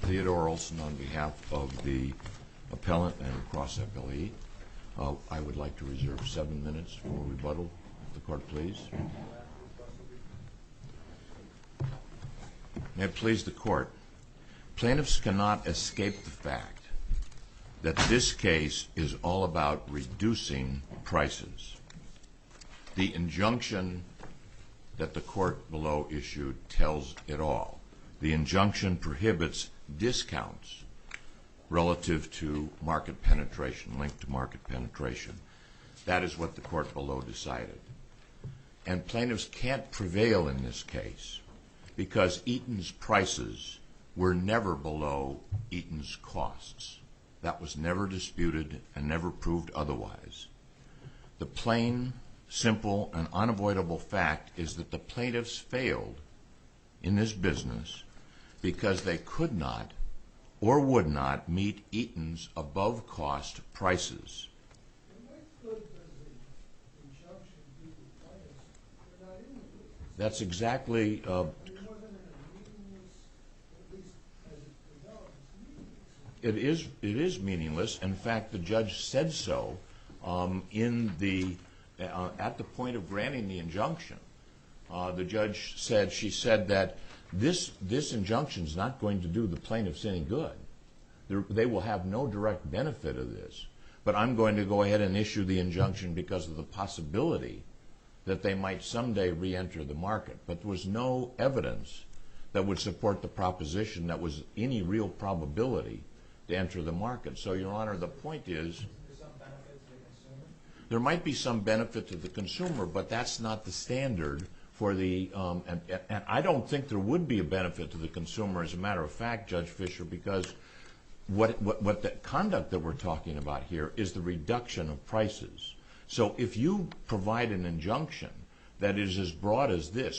Theodore Olson on behalf of the appellant and across FLE. I would like to reserve seven minutes for rebuttal. The court, please. May it please the court. Plaintiffs cannot escape the fact that this case is all about reducing prices. The injunction that the court below issued tells it all. The injunction prohibits discounts relative to market penetration, linked to market penetration. That is what the court below decided. And plaintiffs can't prevail in this case because Eaton's prices were never below Eaton's costs. That was never disputed and never proved otherwise. The plain, simple, and unavoidable fact is that the plaintiffs failed in this business because they could not or would not meet Eaton's above-cost prices. And what good does the injunction do to the plaintiffs if they're not in the business? It is meaningless. In fact, the judge said so at the point of granting the injunction. The judge said she said that this injunction is not going to do the plaintiffs any good. They will have no direct benefit of this. But I'm going to go ahead and issue the injunction because of the possibility that they might someday reenter the market. But there was no evidence that would support the proposition that was any real probability to enter the market. So, Your Honor, the point is there might be some benefit to the consumer, but that's not the standard for the...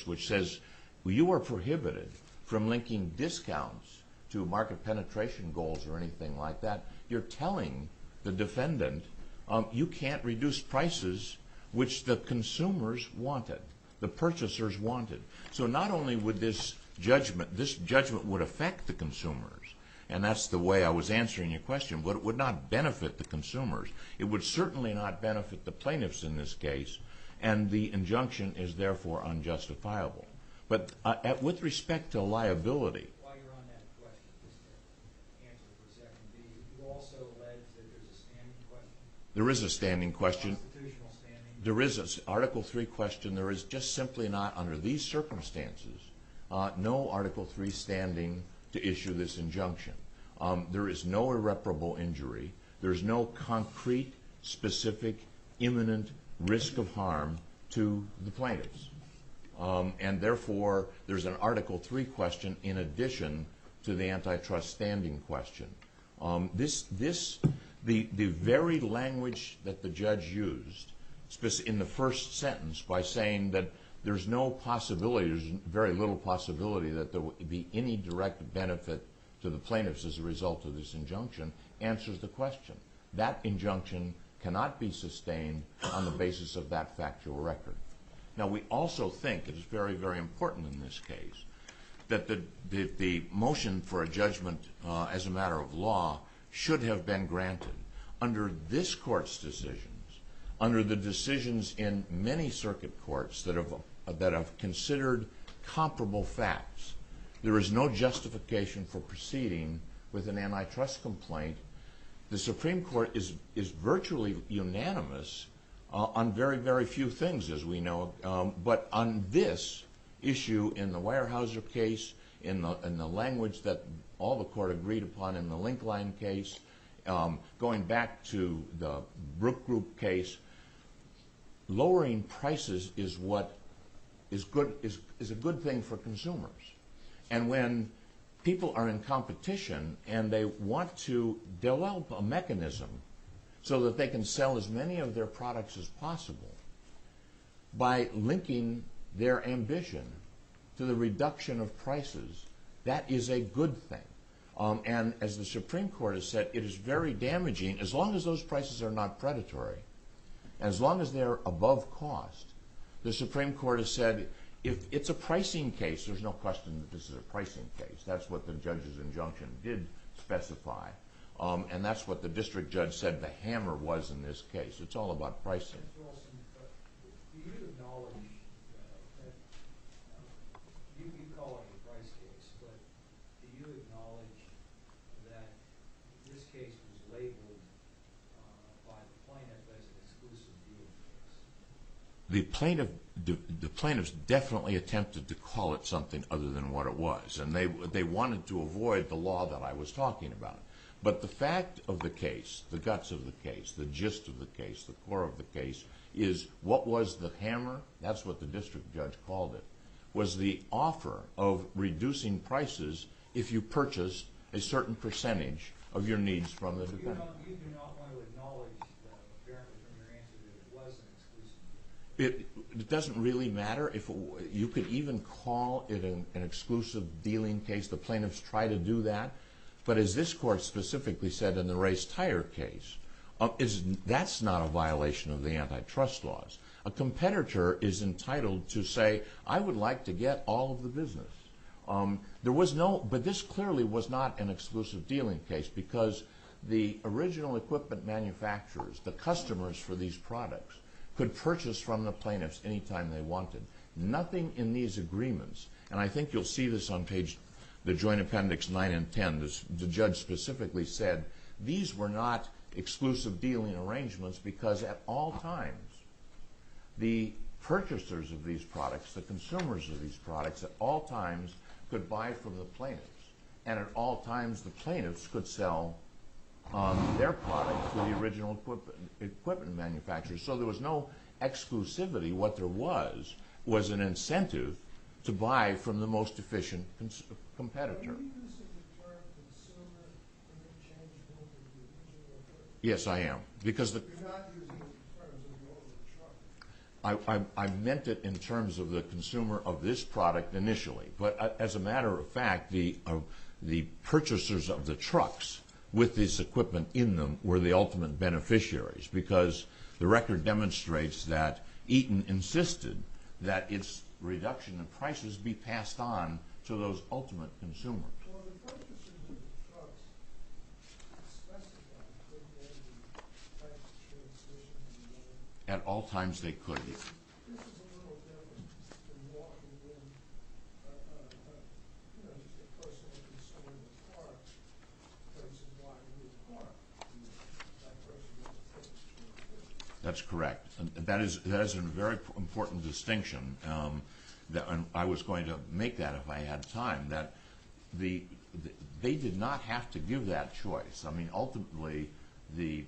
which says you are prohibited from linking discounts to market penetration goals or anything like that. You're telling the defendant you can't reduce prices which the consumers wanted, the purchasers wanted. So not only would this judgment... this judgment would affect the consumers, and that's the way I was answering your question, but it would not benefit the consumers. It would certainly not benefit the plaintiffs in this case, and the injunction is therefore unjustifiable. There is a standing question. There is an Article 3 question. There is just simply not, under these circumstances, no Article 3 standing to issue this injunction. There is no irreparable injury. There is no concrete, specific, imminent risk of harm to the plaintiffs. And therefore, there's an Article 3 question in addition to the antitrust standing question. The very language that the judge used in the first sentence by saying that there's no possibility, there's very little possibility that there would be any direct benefit to the plaintiffs as a result of this injunction, answers the question. That injunction cannot be sustained on the basis of that factual record. Now we also think that it's very, very important in this case that the motion for a judgment as a matter of law should have been granted. Under this court's decisions, under the decisions in many circuit courts that have considered comparable facts, there is no justification for proceeding with an antitrust complaint. The Supreme Court is virtually unanimous on very, very few things, as we know, but on this issue in the Weyerhaeuser case, in the language that all the court agreed upon in the Linkline case, going back to the Brook Group case, lowering prices is a good thing for consumers. And when people are in competition and they want to develop a mechanism so that they can sell as many of their products as possible by linking their ambition to the reduction of prices, that is a good thing. And as the Supreme Court has said, it is very damaging, as long as those prices are not predatory, as long as they're above cost. The Supreme Court has said, if it's a pricing case, there's no question that this is a pricing case. That's what the judge's injunction did specify. And that's what the district judge said the hammer was in this case. It's all about pricing. The plaintiffs definitely attempted to call it something other than what it was, and they wanted to avoid the law that I was talking about. But the fact of the case, the guts of the case, the gist of the case, the core of the case, is what was the hammer, that's what the district judge called it, was the offer of reducing prices if you purchased a certain percentage of your needs from the department. No, you do not want to acknowledge that it was an exclusive deal. Because the original equipment manufacturers, the customers for these products, could purchase from the plaintiffs any time they wanted. Nothing in these agreements, and I think you'll see this on page, the Joint Appendix 9 and 10, the judge specifically said, these were not exclusive dealing arrangements because at all times, the purchasers of these products, the consumers of these products, at all times could buy from the plaintiffs. And at all times, the plaintiffs could sell their products to the original equipment manufacturers. So there was no exclusivity. What there was, was an incentive to buy from the most efficient competitor. But are you using the term consumer interchangeably with the original equipment? You're not using it in terms of all the trucks. Well, the purchasers of the trucks specified that they would buy from the plaintiffs at all times. This is a little different than walking in, you know, a person would be selling a car, a person buying a new car. That's correct. That is a very important distinction. I was going to make that if I had time. They did not have to give that choice. I mean, ultimately, the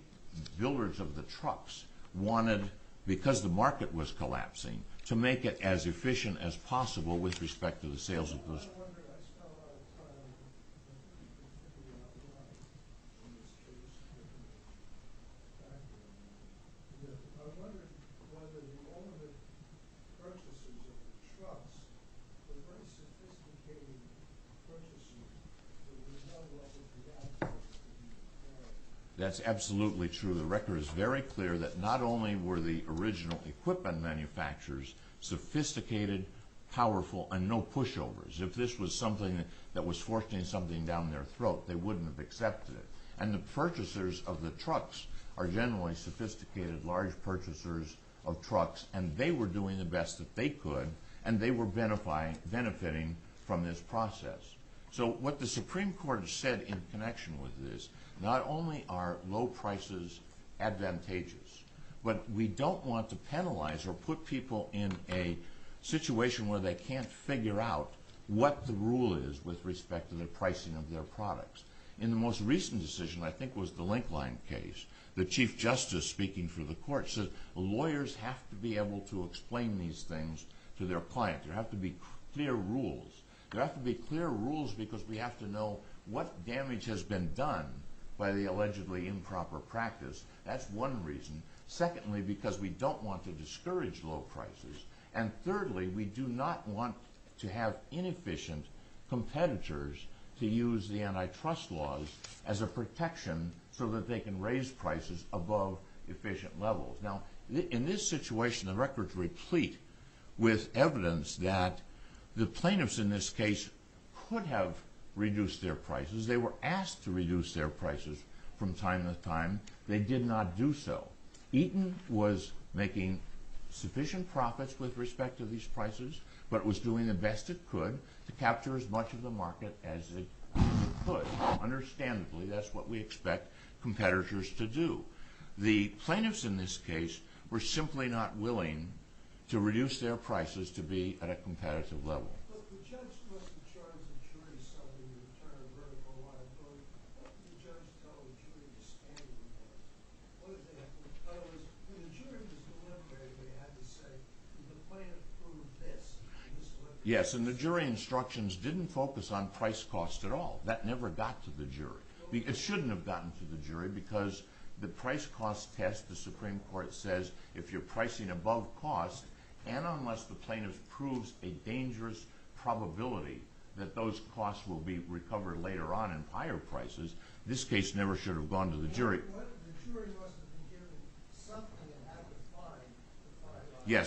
builders of the trucks wanted, because the market was collapsing, to make it as efficient as possible with respect to the sales. I wonder if all the purchasers of the trucks were very sophisticated purchasers. That's absolutely true. The record is very clear that not only were the original equipment manufacturers sophisticated, powerful, and no pushovers. If this was something that was forcing something down their throat, they wouldn't have accepted it. And the purchasers of the trucks are generally sophisticated, large purchasers of trucks, and they were doing the best that they could, and they were benefiting from this process. So what the Supreme Court said in connection with this, not only are low prices advantageous, but we don't want to penalize or put people in a situation where they can't figure out what the rule is with respect to the pricing of their products. In the most recent decision, I think it was the Linkline case, the Chief Justice speaking for the court said lawyers have to be able to explain these things to their clients. There have to be clear rules. There have to be clear rules because we have to know what damage has been done by the allegedly improper practice. That's one reason. Secondly, because we don't want to discourage low prices. And thirdly, we do not want to have inefficient competitors to use the antitrust laws as a protection so that they can raise prices above efficient levels. Now, in this situation, the records replete with evidence that the plaintiffs in this case could have reduced their prices. They were asked to reduce their prices from time to time. They did not do so. Eaton was making sufficient profits with respect to these prices, but was doing the best it could to capture as much of the market as it could. Understandably, that's what we expect competitors to do. The plaintiffs in this case were simply not willing to reduce their prices to be at a competitive level. But the judge wasn't charging the jury something in return for a lot of money. What did the judge tell the jury to stand for? In other words, when the jury was deliberating, they had to say, the plaintiff proved this. Yes, and the jury instructions didn't focus on price cost at all. That never got to the jury. It shouldn't have gotten to the jury because the price cost test, the Supreme Court says, if you're pricing above cost, and unless the plaintiff proves a dangerous probability that those costs will be recovered later on in higher prices, this case never should have gone to the jury. But the jury must have been given something and had to find the five items.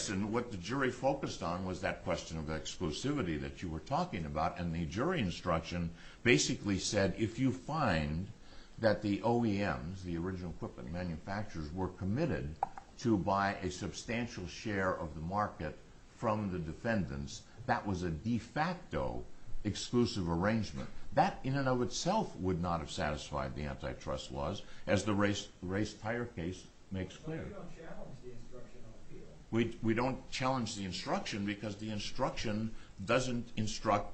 We don't challenge the instruction because the instruction doesn't instruct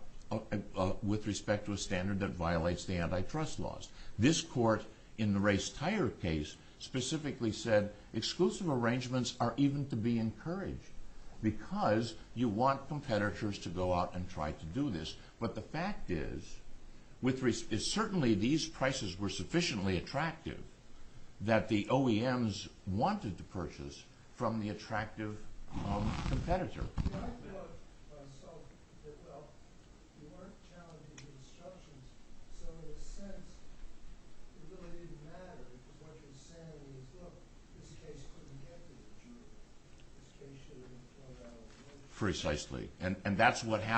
with respect to a standard that violates the antitrust laws. This court, in the race tire case, specifically said exclusive arrangements are even to be encouraged because you want competitors to go out and try to do this. But the fact is, certainly these prices were sufficiently attractive that the OEMs wanted to purchase from the attractive competitor. I thought myself that, well, you weren't challenging the instructions, so in a sense, it really didn't matter what you were saying in the book. This case couldn't get to the jury. This case should have been brought out. which is what should have happened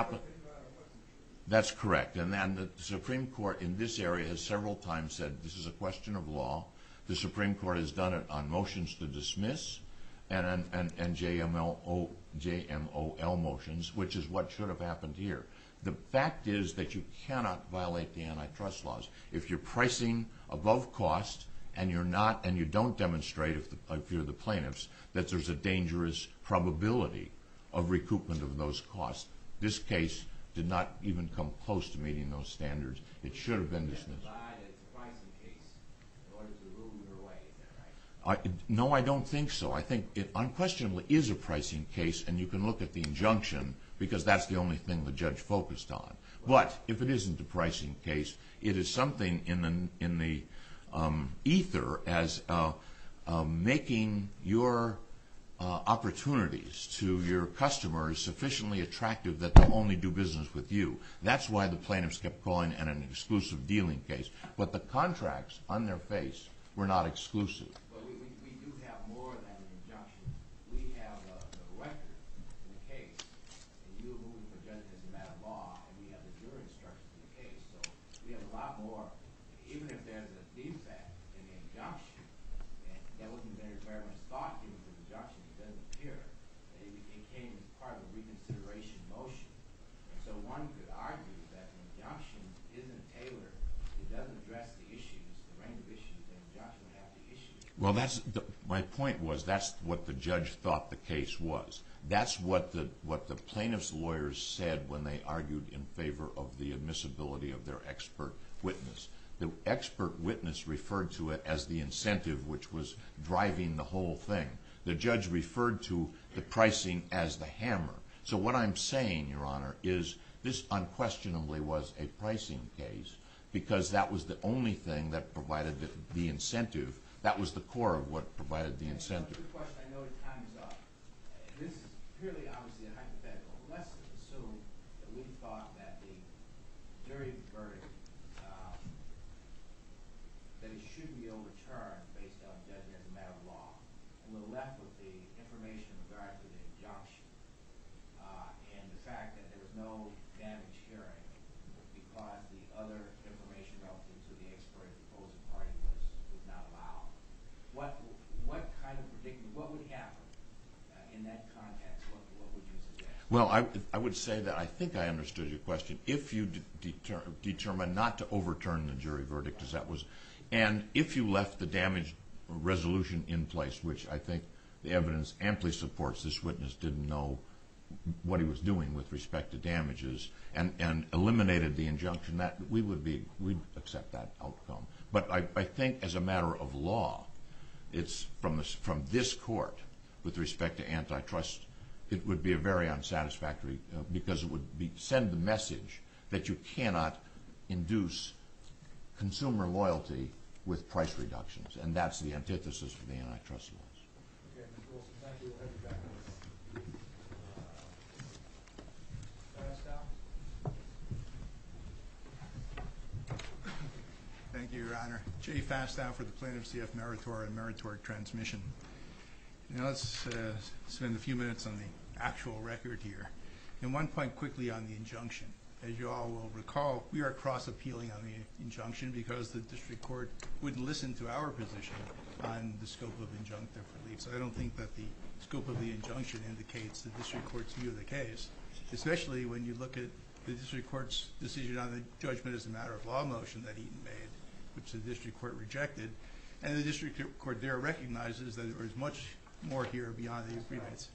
here. The fact is that you cannot violate the antitrust laws if you're pricing above cost and you don't demonstrate, if you're the plaintiffs, that there's a dangerous probability of recoupment of those costs. This case did not even come close to meeting those standards. It should have been dismissed. No, I don't think so. I think it unquestionably is a pricing case and you can look at the injunction because that's the only thing the judge focused on. But if it isn't a pricing case, it is something in the ether as making your opportunities to your customers sufficiently attractive that they'll only do business with you. That's why the plaintiffs kept calling it an exclusive dealing case. But the contracts on their face were not exclusive. But we do have more than an injunction. We have the record in the case and you, who were judges in that law, and we have the jury instructions in the case. So we have a lot more. Even if there's a defect in the injunction, and that wasn't very well thought given the injunction, it doesn't appear that it became part of a reconsideration motion. So one could argue that the injunction isn't tailored. It doesn't address the issues, the range of issues that the injunction has to issue. Well, my point was that's what the judge thought the case was. That's what the plaintiff's lawyers said when they argued in favor of the admissibility of their expert witness. The expert witness referred to it as the incentive, which was driving the whole thing. The judge referred to the pricing as the hammer. So what I'm saying, Your Honor, is this unquestionably was a pricing case because that was the only thing that provided the incentive. That was the core of what provided the incentive. This is a good question. I know the time is up. This is purely, obviously, a hypothetical. Let's assume that we thought that the jury's verdict, that it should be overturned based on the judgment of the matter of law, and we're left with the information regarding the injunction and the fact that there was no damage hearing because the other information relative to the expert, the opposing party, was not allowed. What would happen in that context? What would you suggest? Well, I would say that I think I understood your question. If you determined not to overturn the jury verdict, and if you left the damage resolution in place, which I think the evidence amply supports, this witness didn't know what he was doing with respect to damages and eliminated the injunction, we'd accept that outcome. But I think as a matter of law, from this court, with respect to antitrust, it would be very unsatisfactory because it would send the message that you cannot induce consumer loyalty with price reductions. And that's the antithesis for the antitrust laws. Okay. Mr. Wilson, thank you. We'll have you back in a minute. May I stop? Thank you, Your Honor. Jay Fastow for the plaintiff's CF Meritor and Meritor Transmission. Now let's spend a few minutes on the actual record here. And one point quickly on the injunction. As you all will recall, we are cross-appealing on the injunction because the district court wouldn't listen to our position on the scope of injunctive relief. So I don't think that the scope of the injunction indicates the district court's view of the case, especially when you look at the district court's decision on the judgment as a matter of law motion that Eaton made, which the district court rejected. And the district court there recognizes that there is much more here beyond the agreements.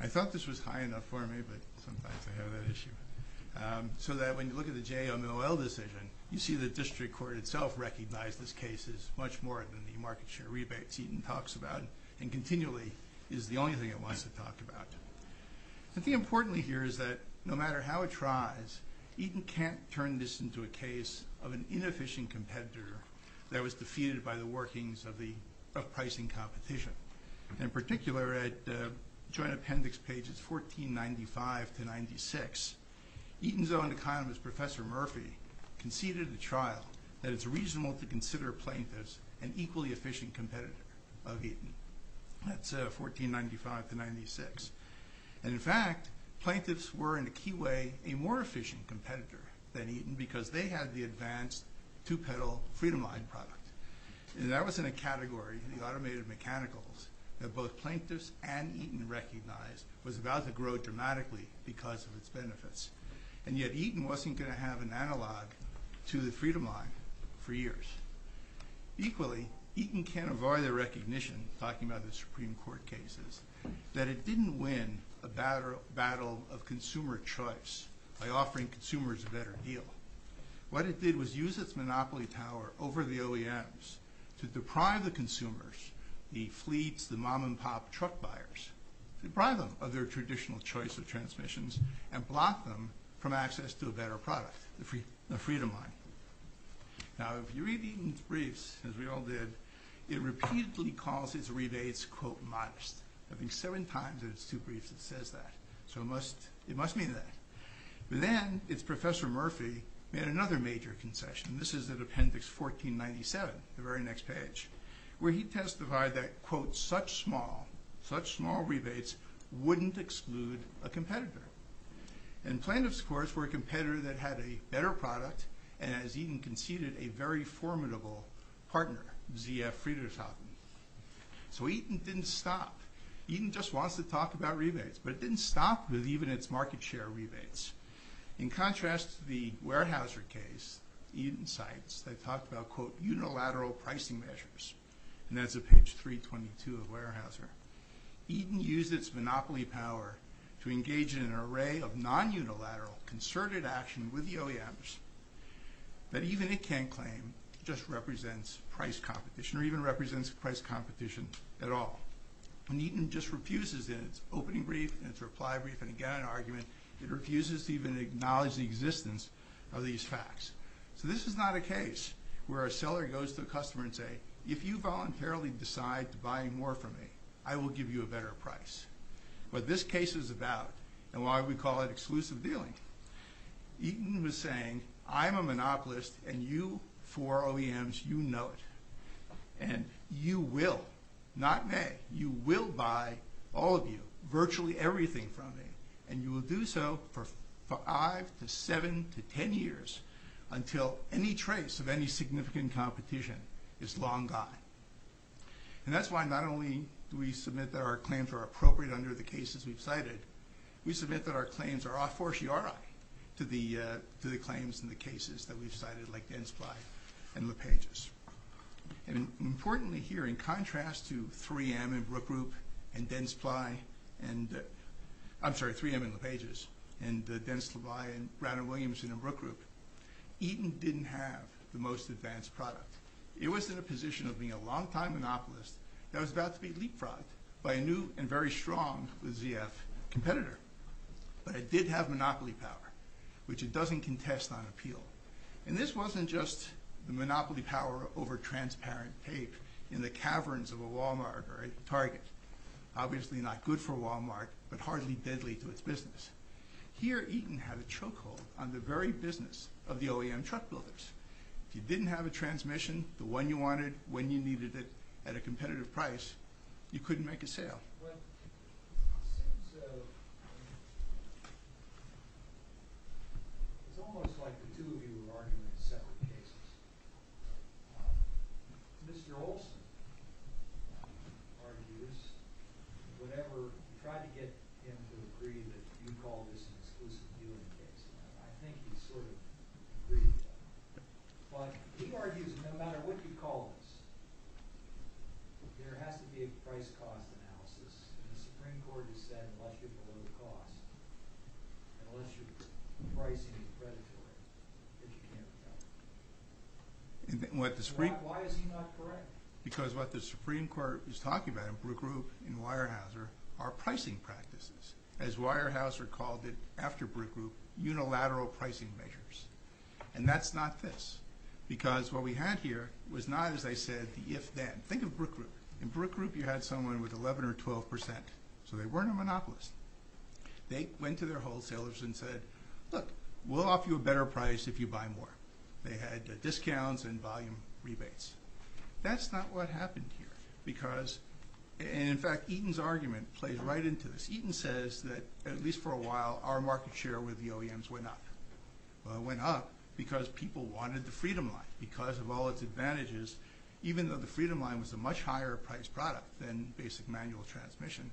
I thought this was high enough for me, but sometimes I have that issue. So that when you look at the JOMOL decision, you see the district court itself recognized this case is much more than the market share rebates Eaton talks about and continually is the only thing it wants to talk about. I think importantly here is that no matter how it tries, Eaton can't turn this into a case of an inefficient competitor that was defeated by the workings of pricing competition. In particular, at joint appendix pages 1495 to 96, Eaton's own economist, Professor Murphy, conceded at a trial that it's reasonable to consider plaintiffs an equally efficient competitor of Eaton. That's 1495 to 96. And in fact, plaintiffs were in a key way a more efficient competitor than Eaton because they had the advanced two-pedal Freedomline product. And that was in a category, the automated mechanicals, that both plaintiffs and Eaton recognized was about to grow dramatically because of its benefits. And yet Eaton wasn't going to have an analog to the Freedomline for years. Equally, Eaton can't avoid the recognition, talking about the Supreme Court cases, that it didn't win a battle of consumer choice by offering consumers a better deal. What it did was use its monopoly power over the OEMs to deprive the consumers, the fleets, the mom-and-pop truck buyers, deprive them of their traditional choice of transmissions and block them from access to a better product, the Freedomline. Now, if you read Eaton's briefs, as we all did, it repeatedly calls its rebates, quote, modest. I think seven times in its two briefs it says that. So it must mean that. But then its Professor Murphy made another major concession. This is at Appendix 1497, the very next page, where he testified that, quote, such small, such small rebates wouldn't exclude a competitor. And plaintiffs, of course, were a competitor that had a better product and, as Eaton conceded, a very formidable partner, ZF Friedershausen. So Eaton didn't stop. Eaton just wants to talk about rebates. But it didn't stop with even its market share rebates. In contrast to the Weyerhaeuser case, Eaton cites, they talked about, quote, unilateral pricing measures. Eaton used its monopoly power to engage in an array of non-unilateral, concerted action with the OEMs that even it can't claim just represents price competition or even represents price competition at all. And Eaton just refuses in its opening brief and its reply brief and, again, in argument, it refuses to even acknowledge the existence of these facts. So this is not a case where a seller goes to a customer and say, if you voluntarily decide to buy more from me, I will give you a better price. What this case is about and why we call it exclusive dealing, Eaton was saying, I'm a monopolist and you four OEMs, you know it. And you will, not may, you will buy all of you, virtually everything from me. And you will do so for five to seven to ten years until any trace of any significant competition is long gone. And that's why not only do we submit that our claims are appropriate under the cases we've cited, we submit that our claims are a fortiori to the claims and the cases that we've cited like Densply and LePages. And importantly here in contrast to 3M and Brook Group and Densply and, I'm sorry, 3M and LePages and Dennis LeVay and Brandon Williamson and Brook Group, Eaton didn't have the most advanced product. It was in a position of being a long time monopolist that was about to be leapfrogged by a new and very strong ZF competitor. But it did have monopoly power, which it doesn't contest on appeal. And this wasn't just the monopoly power over transparent tape in the caverns of a Walmart or a Target. Obviously not good for Walmart, but hardly deadly to its business. Here Eaton had a chokehold on the very business of the OEM truck builders. If you didn't have a transmission, the one you wanted, when you needed it, at a competitive price, you couldn't make a sale. It's almost like the two of you would argue in separate cases. Mr. Olson argues whatever – try to get him to agree that you call this an exclusive viewing case. I think he's sort of agreed with that. But he argues that no matter what you call this, there has to be a price-cost analysis. And the Supreme Court has said unless you're below the cost, unless your pricing is predatory, that you can't sell. Why is he not correct? Because what the Supreme Court is talking about in Brook Group and Weyerhaeuser are pricing practices. As Weyerhaeuser called it after Brook Group, unilateral pricing measures. And that's not this. Because what we had here was not, as I said, the if-then. Think of Brook Group. In Brook Group you had someone with 11 or 12 percent. So they weren't a monopolist. They went to their wholesalers and said, look, we'll offer you a better price if you buy more. They had discounts and volume rebates. That's not what happened here. Because – and in fact Eaton's argument plays right into this. Eaton says that at least for a while our market share with the OEMs went up. Because people wanted the Freedom Line. Because of all its advantages, even though the Freedom Line was a much higher-priced product than basic manual transmission,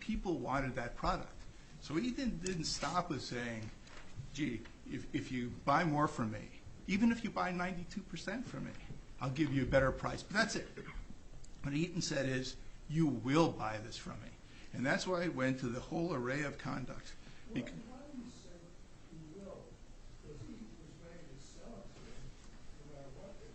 people wanted that product. So Eaton didn't stop with saying, gee, if you buy more from me, even if you buy 92 percent from me, I'll give you a better price. But that's it. What Eaton said is, you will buy this from me. And that's why it went to the whole array of conduct. Why do you say, you will? Because Eaton was ready to sell it to anyone who wanted it.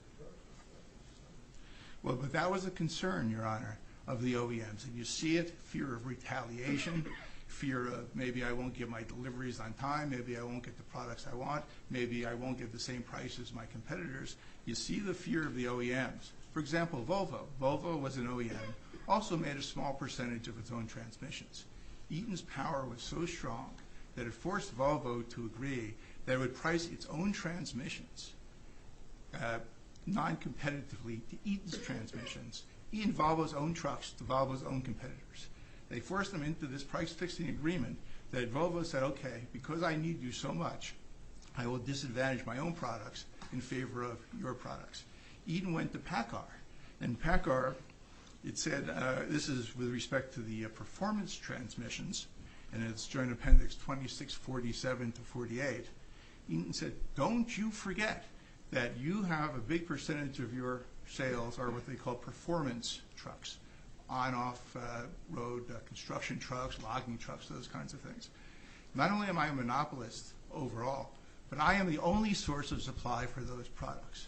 Well, but that was a concern, Your Honor, of the OEMs. And you see it, fear of retaliation, fear of maybe I won't get my deliveries on time, maybe I won't get the products I want, maybe I won't get the same price as my competitors. You see the fear of the OEMs. For example, Volvo. Volvo was an OEM. Also made a small percentage of its own transmissions. Eaton's power was so strong that it forced Volvo to agree that it would price its own transmissions noncompetitively to Eaton's transmissions, Eaton-Volvo's own trucks to Volvo's own competitors. They forced them into this price-fixing agreement that Volvo said, okay, because I need you so much, I will disadvantage my own products in favor of your products. Eaton went to PACCAR. And PACCAR, it said, this is with respect to the performance transmissions, and it's joint appendix 2647 to 48. Eaton said, don't you forget that you have a big percentage of your sales are what they call performance trucks, on-off road construction trucks, logging trucks, those kinds of things. Not only am I a monopolist overall, but I am the only source of supply for those products.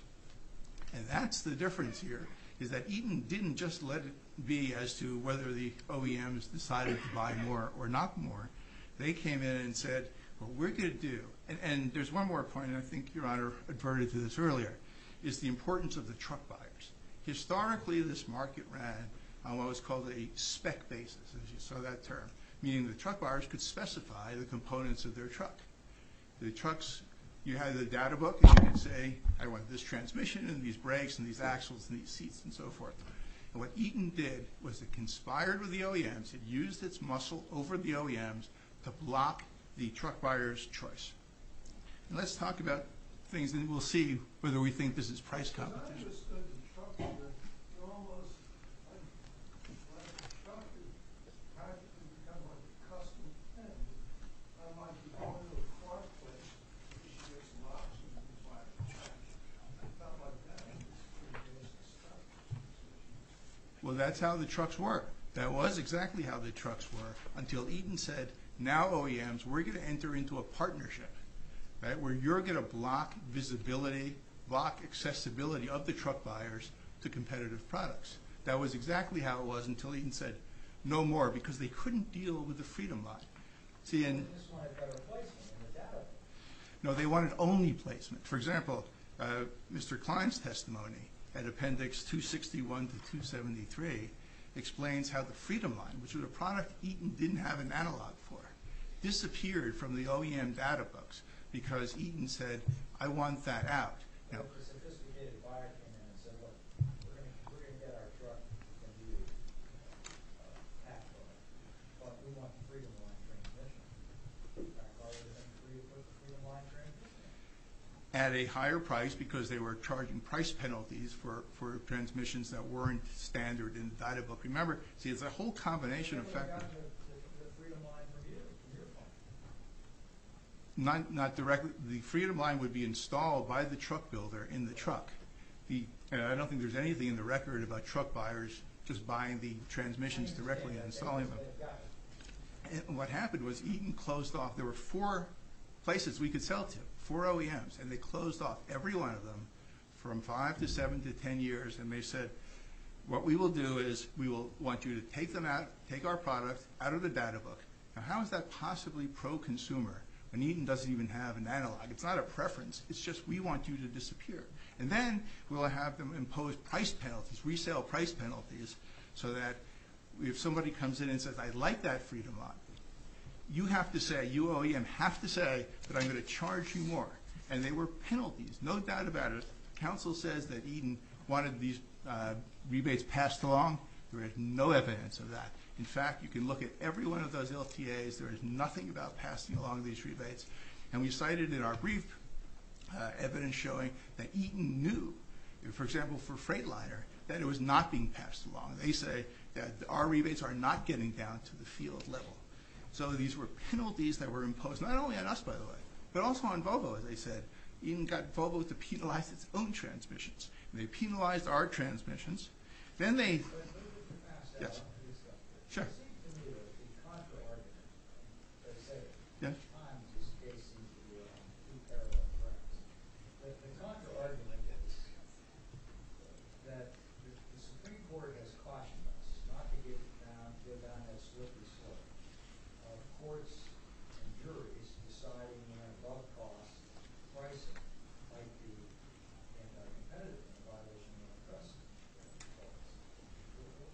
And that's the difference here, is that Eaton didn't just let it be as to whether the OEMs decided to buy more or not more. They came in and said, what we're going to do, and there's one more point, and I think Your Honor adverted to this earlier, is the importance of the truck buyers. Historically, this market ran on what was called a spec basis, as you saw that term, meaning the truck buyers could specify the components of their truck. The trucks, you had the data book, and you could say, I want this transmission, and these brakes, and these axles, and these seats, and so forth. And what Eaton did was it conspired with the OEMs, it used its muscle over the OEMs to block the truck buyers' choice. And let's talk about things, and we'll see whether we think this is price competition. Well, that's how the trucks work. That was exactly how the trucks work, until Eaton said, now OEMs, we're going to enter into a partnership, where you're going to block visibility, block accessibility of the truck buyers to competitive products. That was exactly how it was until Eaton said, no more, because they couldn't deal with the Freedom Line. No, they wanted only placement. For example, Mr. Klein's testimony at Appendix 261 to 273 explains how the Freedom Line, which was a product Eaton didn't have an analog for, disappeared from the OEM data books, because Eaton said, I want that out. At a higher price, because they were charging price penalties for transmissions that weren't standard in the data book. See, it's a whole combination of factors. The Freedom Line would be installed by the truck builder in the truck. I don't think there's anything in the record about truck buyers just buying the transmissions directly and installing them. What happened was Eaton closed off, there were four places we could sell to, four OEMs, and they closed off every one of them from five to seven to ten years, and they said, what we will do is we will want you to take them out, take our product out of the data book. Now, how is that possibly pro-consumer when Eaton doesn't even have an analog? It's not a preference. It's just we want you to disappear. And then we'll have them impose price penalties, resale price penalties, so that if somebody comes in and says, I like that Freedom Line, you have to say, you OEM, have to say that I'm going to charge you more. And they were penalties, no doubt about it. Council says that Eaton wanted these rebates passed along. There is no evidence of that. In fact, you can look at every one of those LTAs. There is nothing about passing along these rebates. And we cited in our brief evidence showing that Eaton knew, for example, for Freightliner, that it was not being passed along. They say that our rebates are not getting down to the field level. So these were penalties that were imposed, not only on us, by the way, but also on Volvo, as I said. Eaton got Volvo to penalize its own transmissions. They penalized our transmissions. Yes, sure.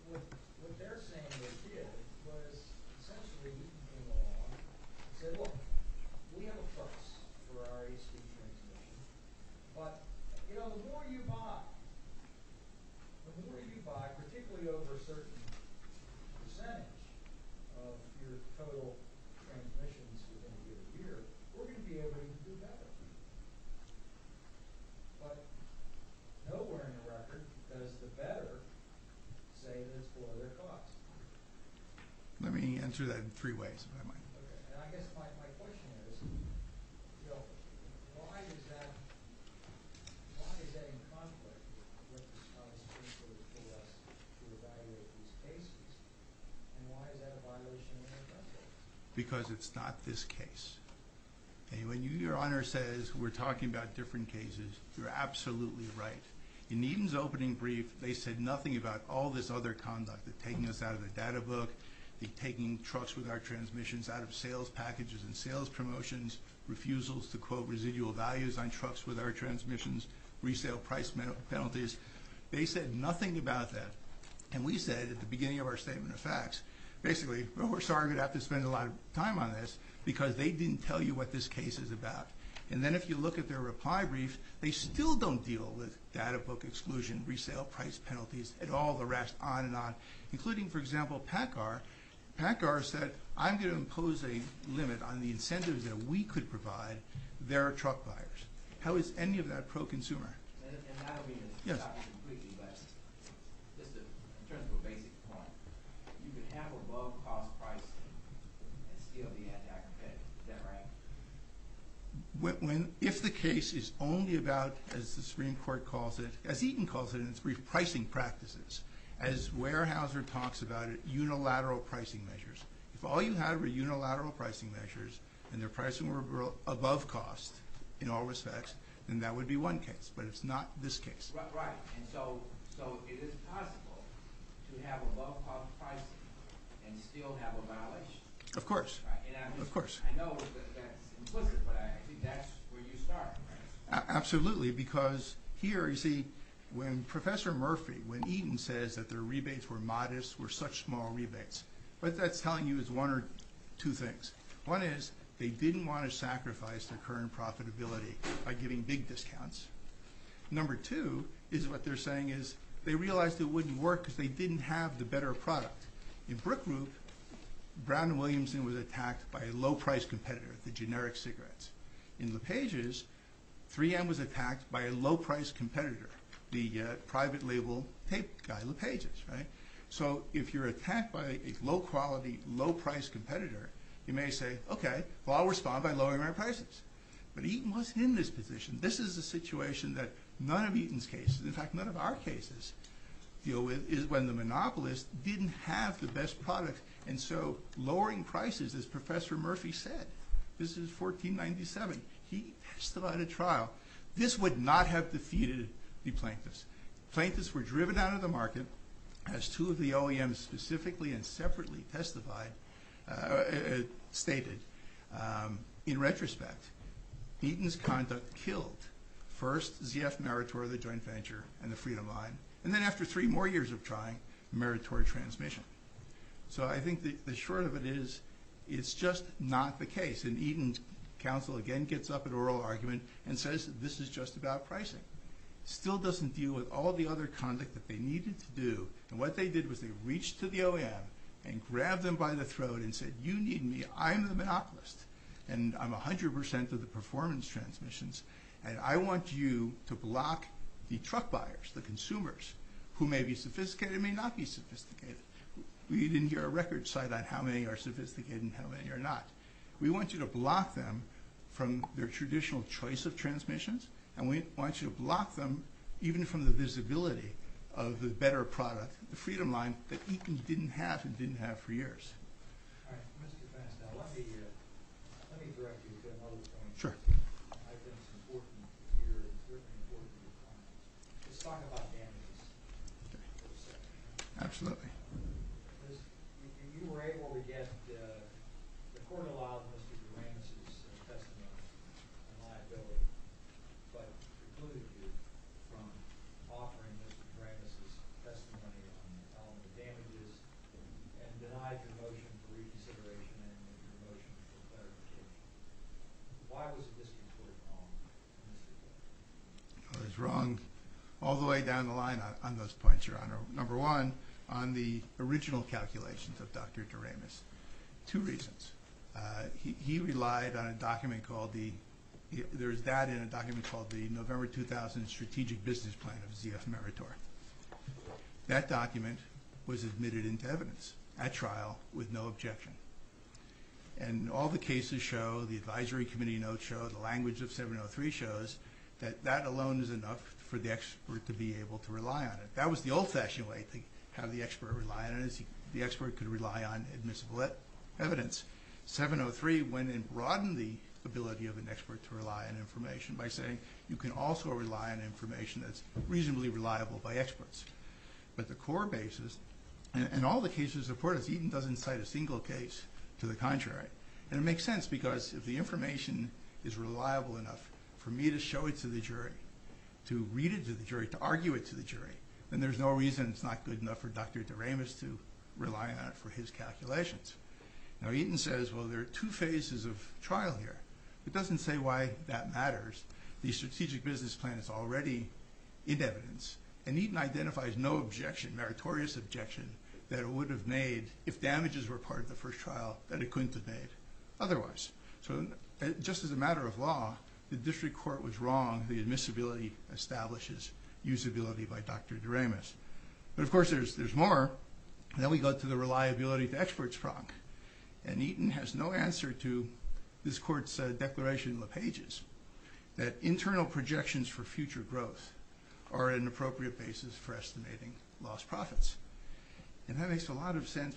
What they're saying they did was essentially Eaton came along and said, look, we have a trust for our AC transmission. But, you know, the more you buy, particularly over a certain percentage of your total transmissions within a year, we're going to be able to do better. But nowhere in the record does the better say that it's below their costs. Let me answer that in three ways, if I might. Okay. And I guess my question is, you know, why is that in conflict with the Constitution for us to evaluate these cases? And why is that a violation of the Constitution? Because it's not this case. And when your Honor says we're talking about different cases, you're absolutely right. In Eaton's opening brief, they said nothing about all this other conduct, the taking us out of the data book, the taking trucks with our transmissions out of sales packages and sales promotions, refusals to quote residual values on trucks with our transmissions, resale price penalties. They said nothing about that. And we said at the beginning of our statement of facts, basically, we're sorry we're going to have to spend a lot of time on this, because they didn't tell you what this case is about. And then if you look at their reply brief, they still don't deal with data book exclusion, resale price penalties, and all the rest, on and on. Including, for example, PACCAR. PACCAR said, I'm going to impose a limit on the incentives that we could provide their truck buyers. How is any of that pro-consumer? Yes. If the case is only about, as the Supreme Court calls it, as Eaton calls it in its brief, pricing practices, as Weyerhaeuser talks about it, unilateral pricing measures. If all you had were unilateral pricing measures, and their pricing were above cost in all respects, then that would be one case. But it's not this case. Of course. Absolutely. Because here, you see, when Professor Murphy, when Eaton says that their rebates were modest, were such small rebates, what that's telling you is one or two things. One is they didn't want to sacrifice their current profitability by giving big discounts. Number two is what they're saying is they realized it wouldn't work because they didn't have the better product. In Brook Group, Brown & Williamson was attacked by a low-priced competitor, the generic cigarettes. In LePage's, 3M was attacked by a low-priced competitor, the private label tape guy, LePage's, right? So if you're attacked by a low-quality, low-priced competitor, you may say, okay, well, I'll respond by lowering our prices. But Eaton was in this position. This is a situation that none of Eaton's cases, in fact, none of our cases, deal with is when the monopolist didn't have the best product. And so lowering prices, as Professor Murphy said, this is 1497. He testified at trial. This would not have defeated the plaintiffs. Plaintiffs were driven out of the market, as two of the OEMs specifically and separately testified, stated. In retrospect, Eaton's conduct killed first ZF Maritore, the joint venture, and the Freedom Line, and then after three more years of trying, Maritore Transmission. So I think the short of it is it's just not the case. And Eaton's counsel again gets up at oral argument and says this is just about pricing. Still doesn't deal with all the other conduct that they needed to do. And what they did was they reached to the OEM and grabbed them by the throat and said you need me. I'm the monopolist, and I'm 100% of the performance transmissions, and I want you to block the truck buyers, the consumers, who may be sophisticated and may not be sophisticated. We didn't hear a record cite on how many are sophisticated and how many are not. We want you to block them from their traditional choice of transmissions, and we want you to block them even from the visibility of the better product, the Freedom Line, that Eaton didn't have and didn't have for years. All right. Mr. Vance, now let me direct you to another point. Sure. I think it's important to hear and important to hear your comments. Let's talk about damages for a second. Absolutely. Because you were able to get the court-allowed Mr. Duranis' testimony on liability, but precluded you from offering Mr. Duranis' testimony on the damages and denied your motion for reconsideration and your motion for clarification. Why was this important in this case? I was wrong all the way down the line on those points, Your Honor. Number one, on the original calculations of Dr. Duranis. Two reasons. He relied on a document called the November 2000 Strategic Business Plan of ZF Meritor. That document was admitted into evidence at trial with no objection. And all the cases show, the advisory committee notes show, the language of 703 shows that that alone is enough for the expert to be able to rely on it. That was the old-fashioned way to have the expert rely on it, 703 went and broadened the ability of an expert to rely on information by saying you can also rely on information that's reasonably reliable by experts. But the core basis in all the cases reported, Eaton doesn't cite a single case to the contrary. And it makes sense because if the information is reliable enough for me to show it to the jury, to read it to the jury, to argue it to the jury, then there's no reason it's not good enough for Dr. Duranis to rely on it for his calculations. Now Eaton says, well, there are two phases of trial here. It doesn't say why that matters. The Strategic Business Plan is already in evidence, and Eaton identifies no objection, meritorious objection, that it would have made if damages were part of the first trial that it couldn't have made otherwise. So just as a matter of law, the district court was wrong, the admissibility establishes usability by Dr. Duranis. But, of course, there's more. Then we go to the reliability to experts problem. And Eaton has no answer to this court's declaration in the pages that internal projections for future growth are an appropriate basis for estimating lost profits. And that makes a lot of sense,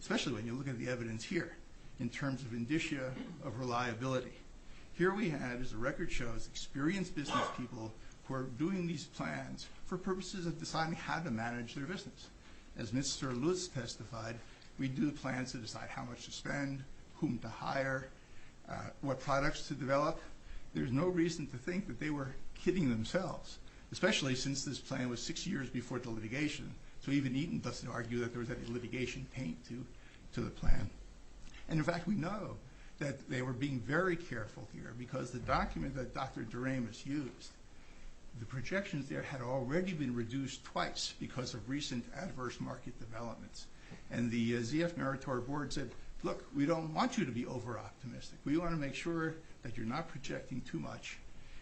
especially when you look at the evidence here, in terms of indicia of reliability. Here we have, as the record shows, experienced business people who are doing these plans for purposes of deciding how to manage their business. As Mr. Lewis testified, we do plans to decide how much to spend, whom to hire, what products to develop. There's no reason to think that they were kidding themselves, especially since this plan was six years before the litigation. So even Eaton doesn't argue that there was any litigation paid to the plan. And, in fact, we know that they were being very careful here because the document that Dr. Duranis used, the projections there had already been reduced twice because of recent adverse market developments. And the ZF Meritor board said, look, we don't want you to be over-optimistic. We want to make sure that you're not projecting too much,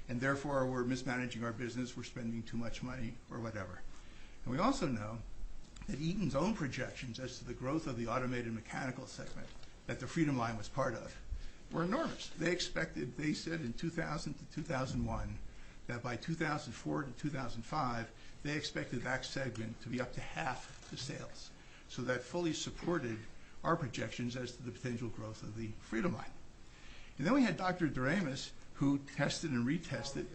and therefore we're mismanaging our business, we're spending too much money, or whatever. And we also know that Eaton's own projections as to the growth of the automated mechanical segment that the Freedom Line was part of were enormous. They said in 2000-2001 that by 2004-2005 they expected that segment to be up to half the sales. So that fully supported our projections as to the potential growth of the Freedom Line. And then we had Dr. Duranis, who tested and retested.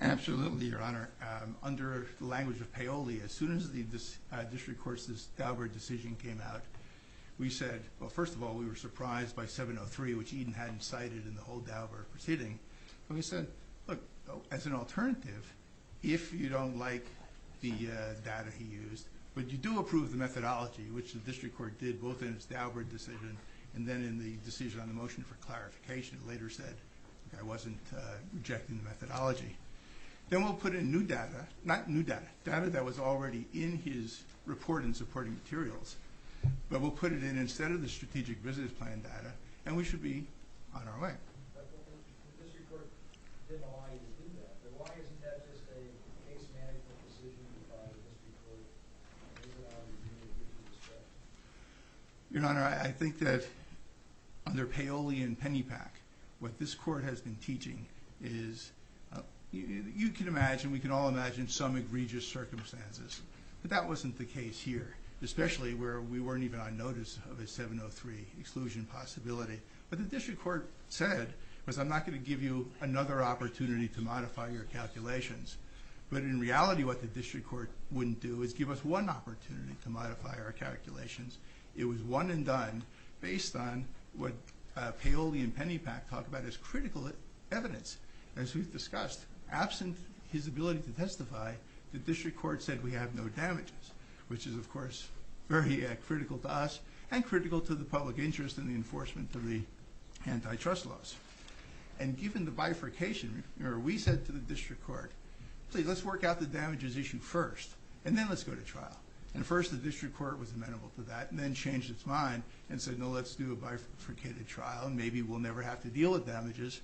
Absolutely, Your Honor. Under the language of Paoli, as soon as the district court's Daubert decision came out, we said, well, first of all, we were surprised by 703, which Eaton hadn't cited in the whole Daubert proceeding. And we said, look, as an alternative, if you don't like the data he used, but you do approve the methodology, which the district court did both in its Daubert decision and then in the decision on the motion for clarification. It later said the guy wasn't rejecting the methodology. Then we'll put in new data. Not new data, data that was already in his report in supporting materials. But we'll put it in instead of the strategic business plan data, and we should be on our way. But this report didn't allow you to do that. But why isn't that just a case-management decision you brought to the district court to get it out of the community? Your Honor, I think that under Paoli and Pennypack, what this court has been teaching is, you can imagine, we can all imagine, some egregious circumstances. But that wasn't the case here, especially where we weren't even on notice of a 703 exclusion possibility. What the district court said was I'm not going to give you another opportunity to modify your calculations. But in reality, what the district court wouldn't do is give us one opportunity to modify our calculations. It was one and done, based on what Paoli and Pennypack talk about as critical evidence, as we've discussed. Absent his ability to testify, the district court said we have no damages, which is, of course, very critical to us and critical to the public interest in the enforcement of the antitrust laws. And given the bifurcation, we said to the district court, please, let's work out the damages issue first, and then let's go to trial. And first, the district court was amenable to that, and then changed its mind and said, no, let's do a bifurcated trial, and maybe we'll never have to deal with damages.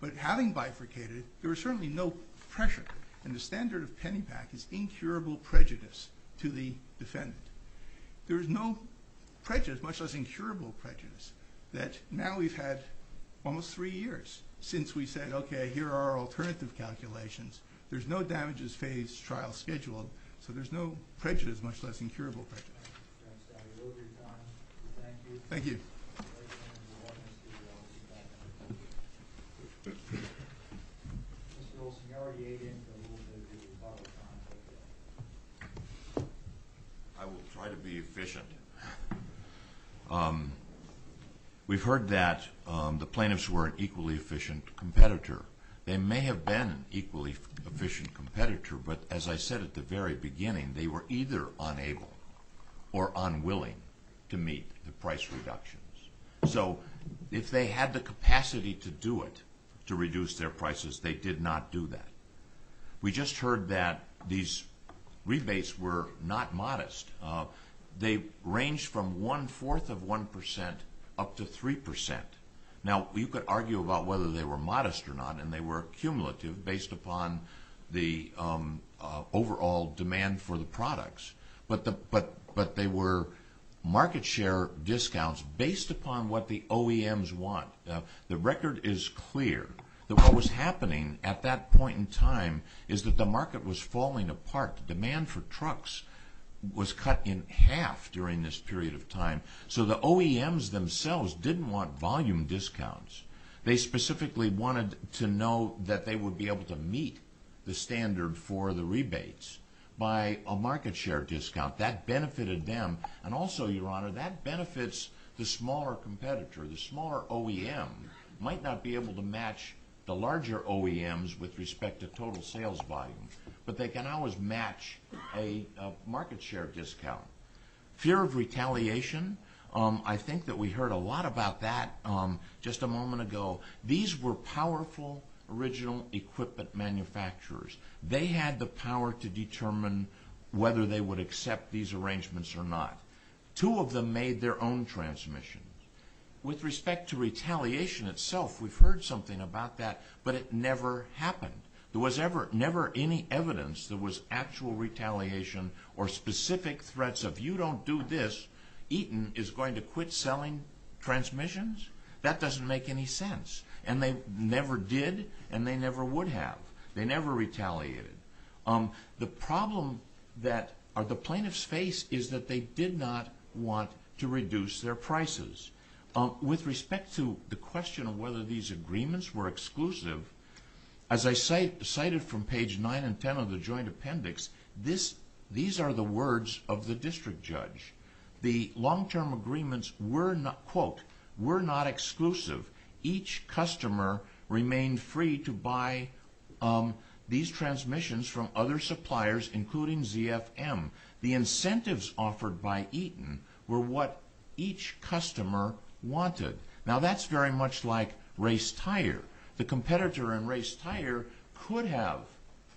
But having bifurcated, there was certainly no pressure. And the standard of Pennypack is incurable prejudice to the defendant. There is no prejudice, much less incurable prejudice, that now we've had almost three years since we said, okay, here are our alternative calculations. There's no damages-phased trial scheduled, so there's no prejudice, much less incurable prejudice. Thank you. I will try to be efficient. We've heard that the plaintiffs were an equally efficient competitor. They may have been an equally efficient competitor, but as I said at the very beginning, they were either unable or unwilling to meet the price reductions. So if they had the capacity to do it, to reduce their prices, they did not do that. We just heard that these rebates were not modest. They ranged from one-fourth of 1% up to 3%. Now, you could argue about whether they were modest or not, and they were cumulative based upon the overall demand for the products. But they were market share discounts based upon what the OEMs want. The record is clear that what was happening at that point in time is that the market was falling apart. Demand for trucks was cut in half during this period of time. So the OEMs themselves didn't want volume discounts. They specifically wanted to know that they would be able to meet the standard for the rebates by a market share discount. That benefited them, and also, Your Honor, that benefits the smaller competitor. The smaller OEM might not be able to match the larger OEMs with respect to total sales volume, but they can always match a market share discount. Fear of retaliation. I think that we heard a lot about that just a moment ago. These were powerful original equipment manufacturers. They had the power to determine whether they would accept these arrangements or not. Two of them made their own transmissions. With respect to retaliation itself, we've heard something about that, but it never happened. There was never any evidence there was actual retaliation or specific threats of, you don't do this, Eaton is going to quit selling transmissions. That doesn't make any sense. And they never did, and they never would have. They never retaliated. The problem that the plaintiffs face is that they did not want to reduce their prices. With respect to the question of whether these agreements were exclusive, as I cited from page 9 and 10 of the joint appendix, these are the words of the district judge. The long-term agreements were not, quote, were not exclusive. Each customer remained free to buy these transmissions from other suppliers, including ZFM. The incentives offered by Eaton were what each customer wanted. Now, that's very much like race tire. The competitor in race tire could have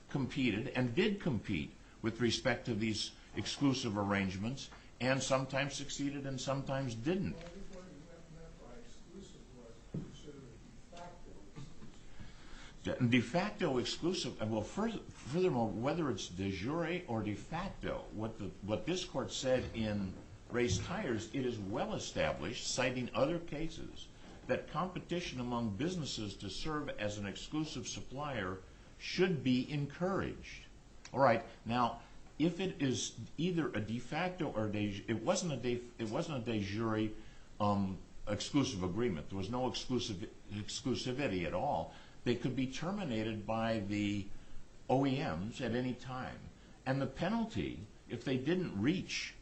competed and did compete with respect to these exclusive arrangements and sometimes succeeded and sometimes didn't. Well, I think what you meant by exclusive was considered de facto exclusive. De facto exclusive. Well, furthermore, whether it's de jure or de facto, what this court said in race tires, it is well established, citing other cases, that competition among businesses to serve as an exclusive supplier should be encouraged. All right. Now, if it is either a de facto or a de jure, it wasn't a de jure exclusive agreement. There was no exclusivity at all. They could be terminated by the OEMs at any time. And the penalty, if they didn't reach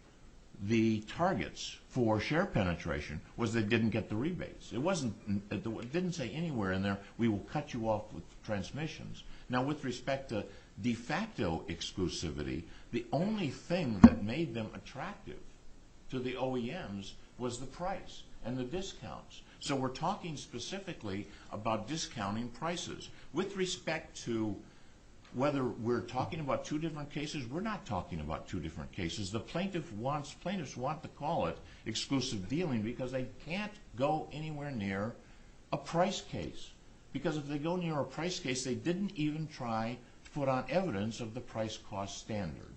the targets for share penetration, was they didn't get the rebates. It didn't say anywhere in there, we will cut you off with transmissions. Now, with respect to de facto exclusivity, the only thing that made them attractive to the OEMs was the price and the discounts. So we're talking specifically about discounting prices. With respect to whether we're talking about two different cases, we're not talking about two different cases. The plaintiffs want to call it exclusive dealing because they can't go anywhere near a price case. Because if they go near a price case, they didn't even try to put on evidence of the price-cost standard.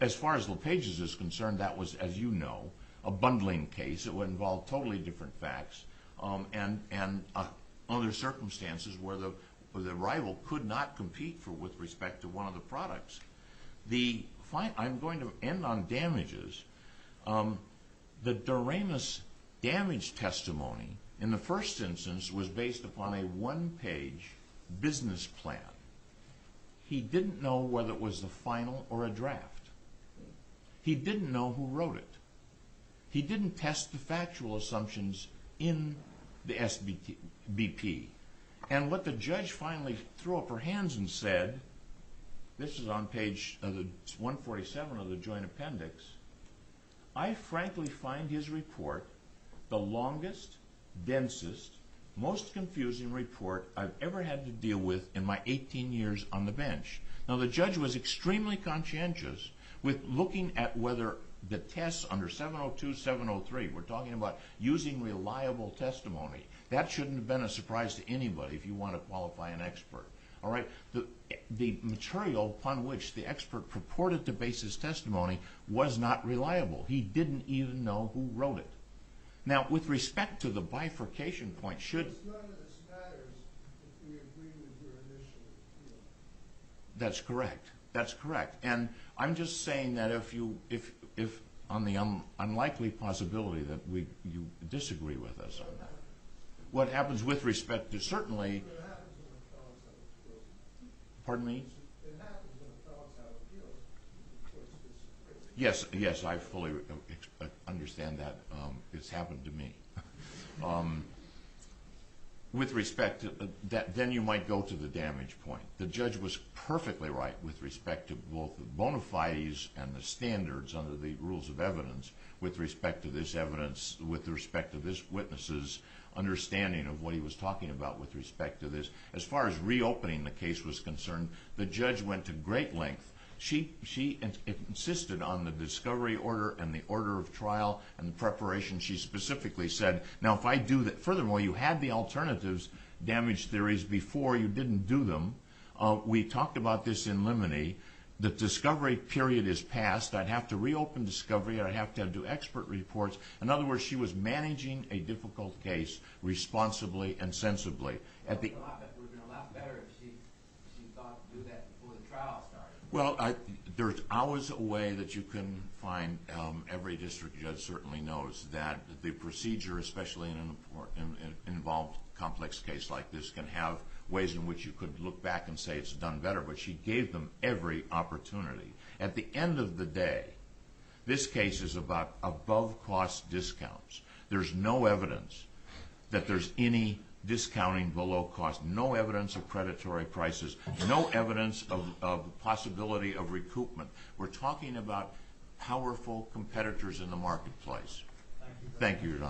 As far as LePage is concerned, that was, as you know, a bundling case. It would involve totally different facts and other circumstances where the rival could not compete with respect to one of the products. I'm going to end on damages. The Doremus damage testimony, in the first instance, was based upon a one-page business plan. He didn't know whether it was the final or a draft. He didn't know who wrote it. He didn't test the factual assumptions in the SBP. And what the judge finally threw up her hands and said, this is on page 147 of the joint appendix, I frankly find his report the longest, densest, most confusing report I've ever had to deal with in my 18 years on the bench. Now, the judge was extremely conscientious with looking at whether the tests under 702, 703, we're talking about using reliable testimony, that shouldn't have been a surprise to anybody if you want to qualify an expert. The material upon which the expert purported to base his testimony was not reliable. He didn't even know who wrote it. Now, with respect to the bifurcation point, should... That's correct. That's correct. And I'm just saying that if on the unlikely possibility that you disagree with us on that. What happens with respect to certainly... Pardon me? Yes, yes, I fully understand that. It's happened to me. With respect to that, then you might go to the damage point. The judge was perfectly right with respect to both the bona fides and the standards under the rules of evidence with respect to this evidence, with respect to this witness's understanding of what he was talking about with respect to this. As far as reopening the case was concerned, the judge went to great length. She insisted on the discovery order and the order of trial and the preparation. She specifically said, now, if I do that... Furthermore, you had the alternatives damage theories before you didn't do them. We talked about this in limine. The discovery period is past. I'd have to reopen discovery. I'd have to do expert reports. In other words, she was managing a difficult case responsibly and sensibly. It would have been a lot better if she thought to do that before the trial started. Well, there's always a way that you can find... Every district judge certainly knows that the procedure, especially in an involved complex case like this, can have ways in which you could look back and say it's done better, but she gave them every opportunity. At the end of the day, this case is about above-cost discounts. There's no evidence that there's any discounting below cost. No evidence of predatory prices. No evidence of possibility of recoupment. We're talking about powerful competitors in the marketplace. Thank you, Your Honor.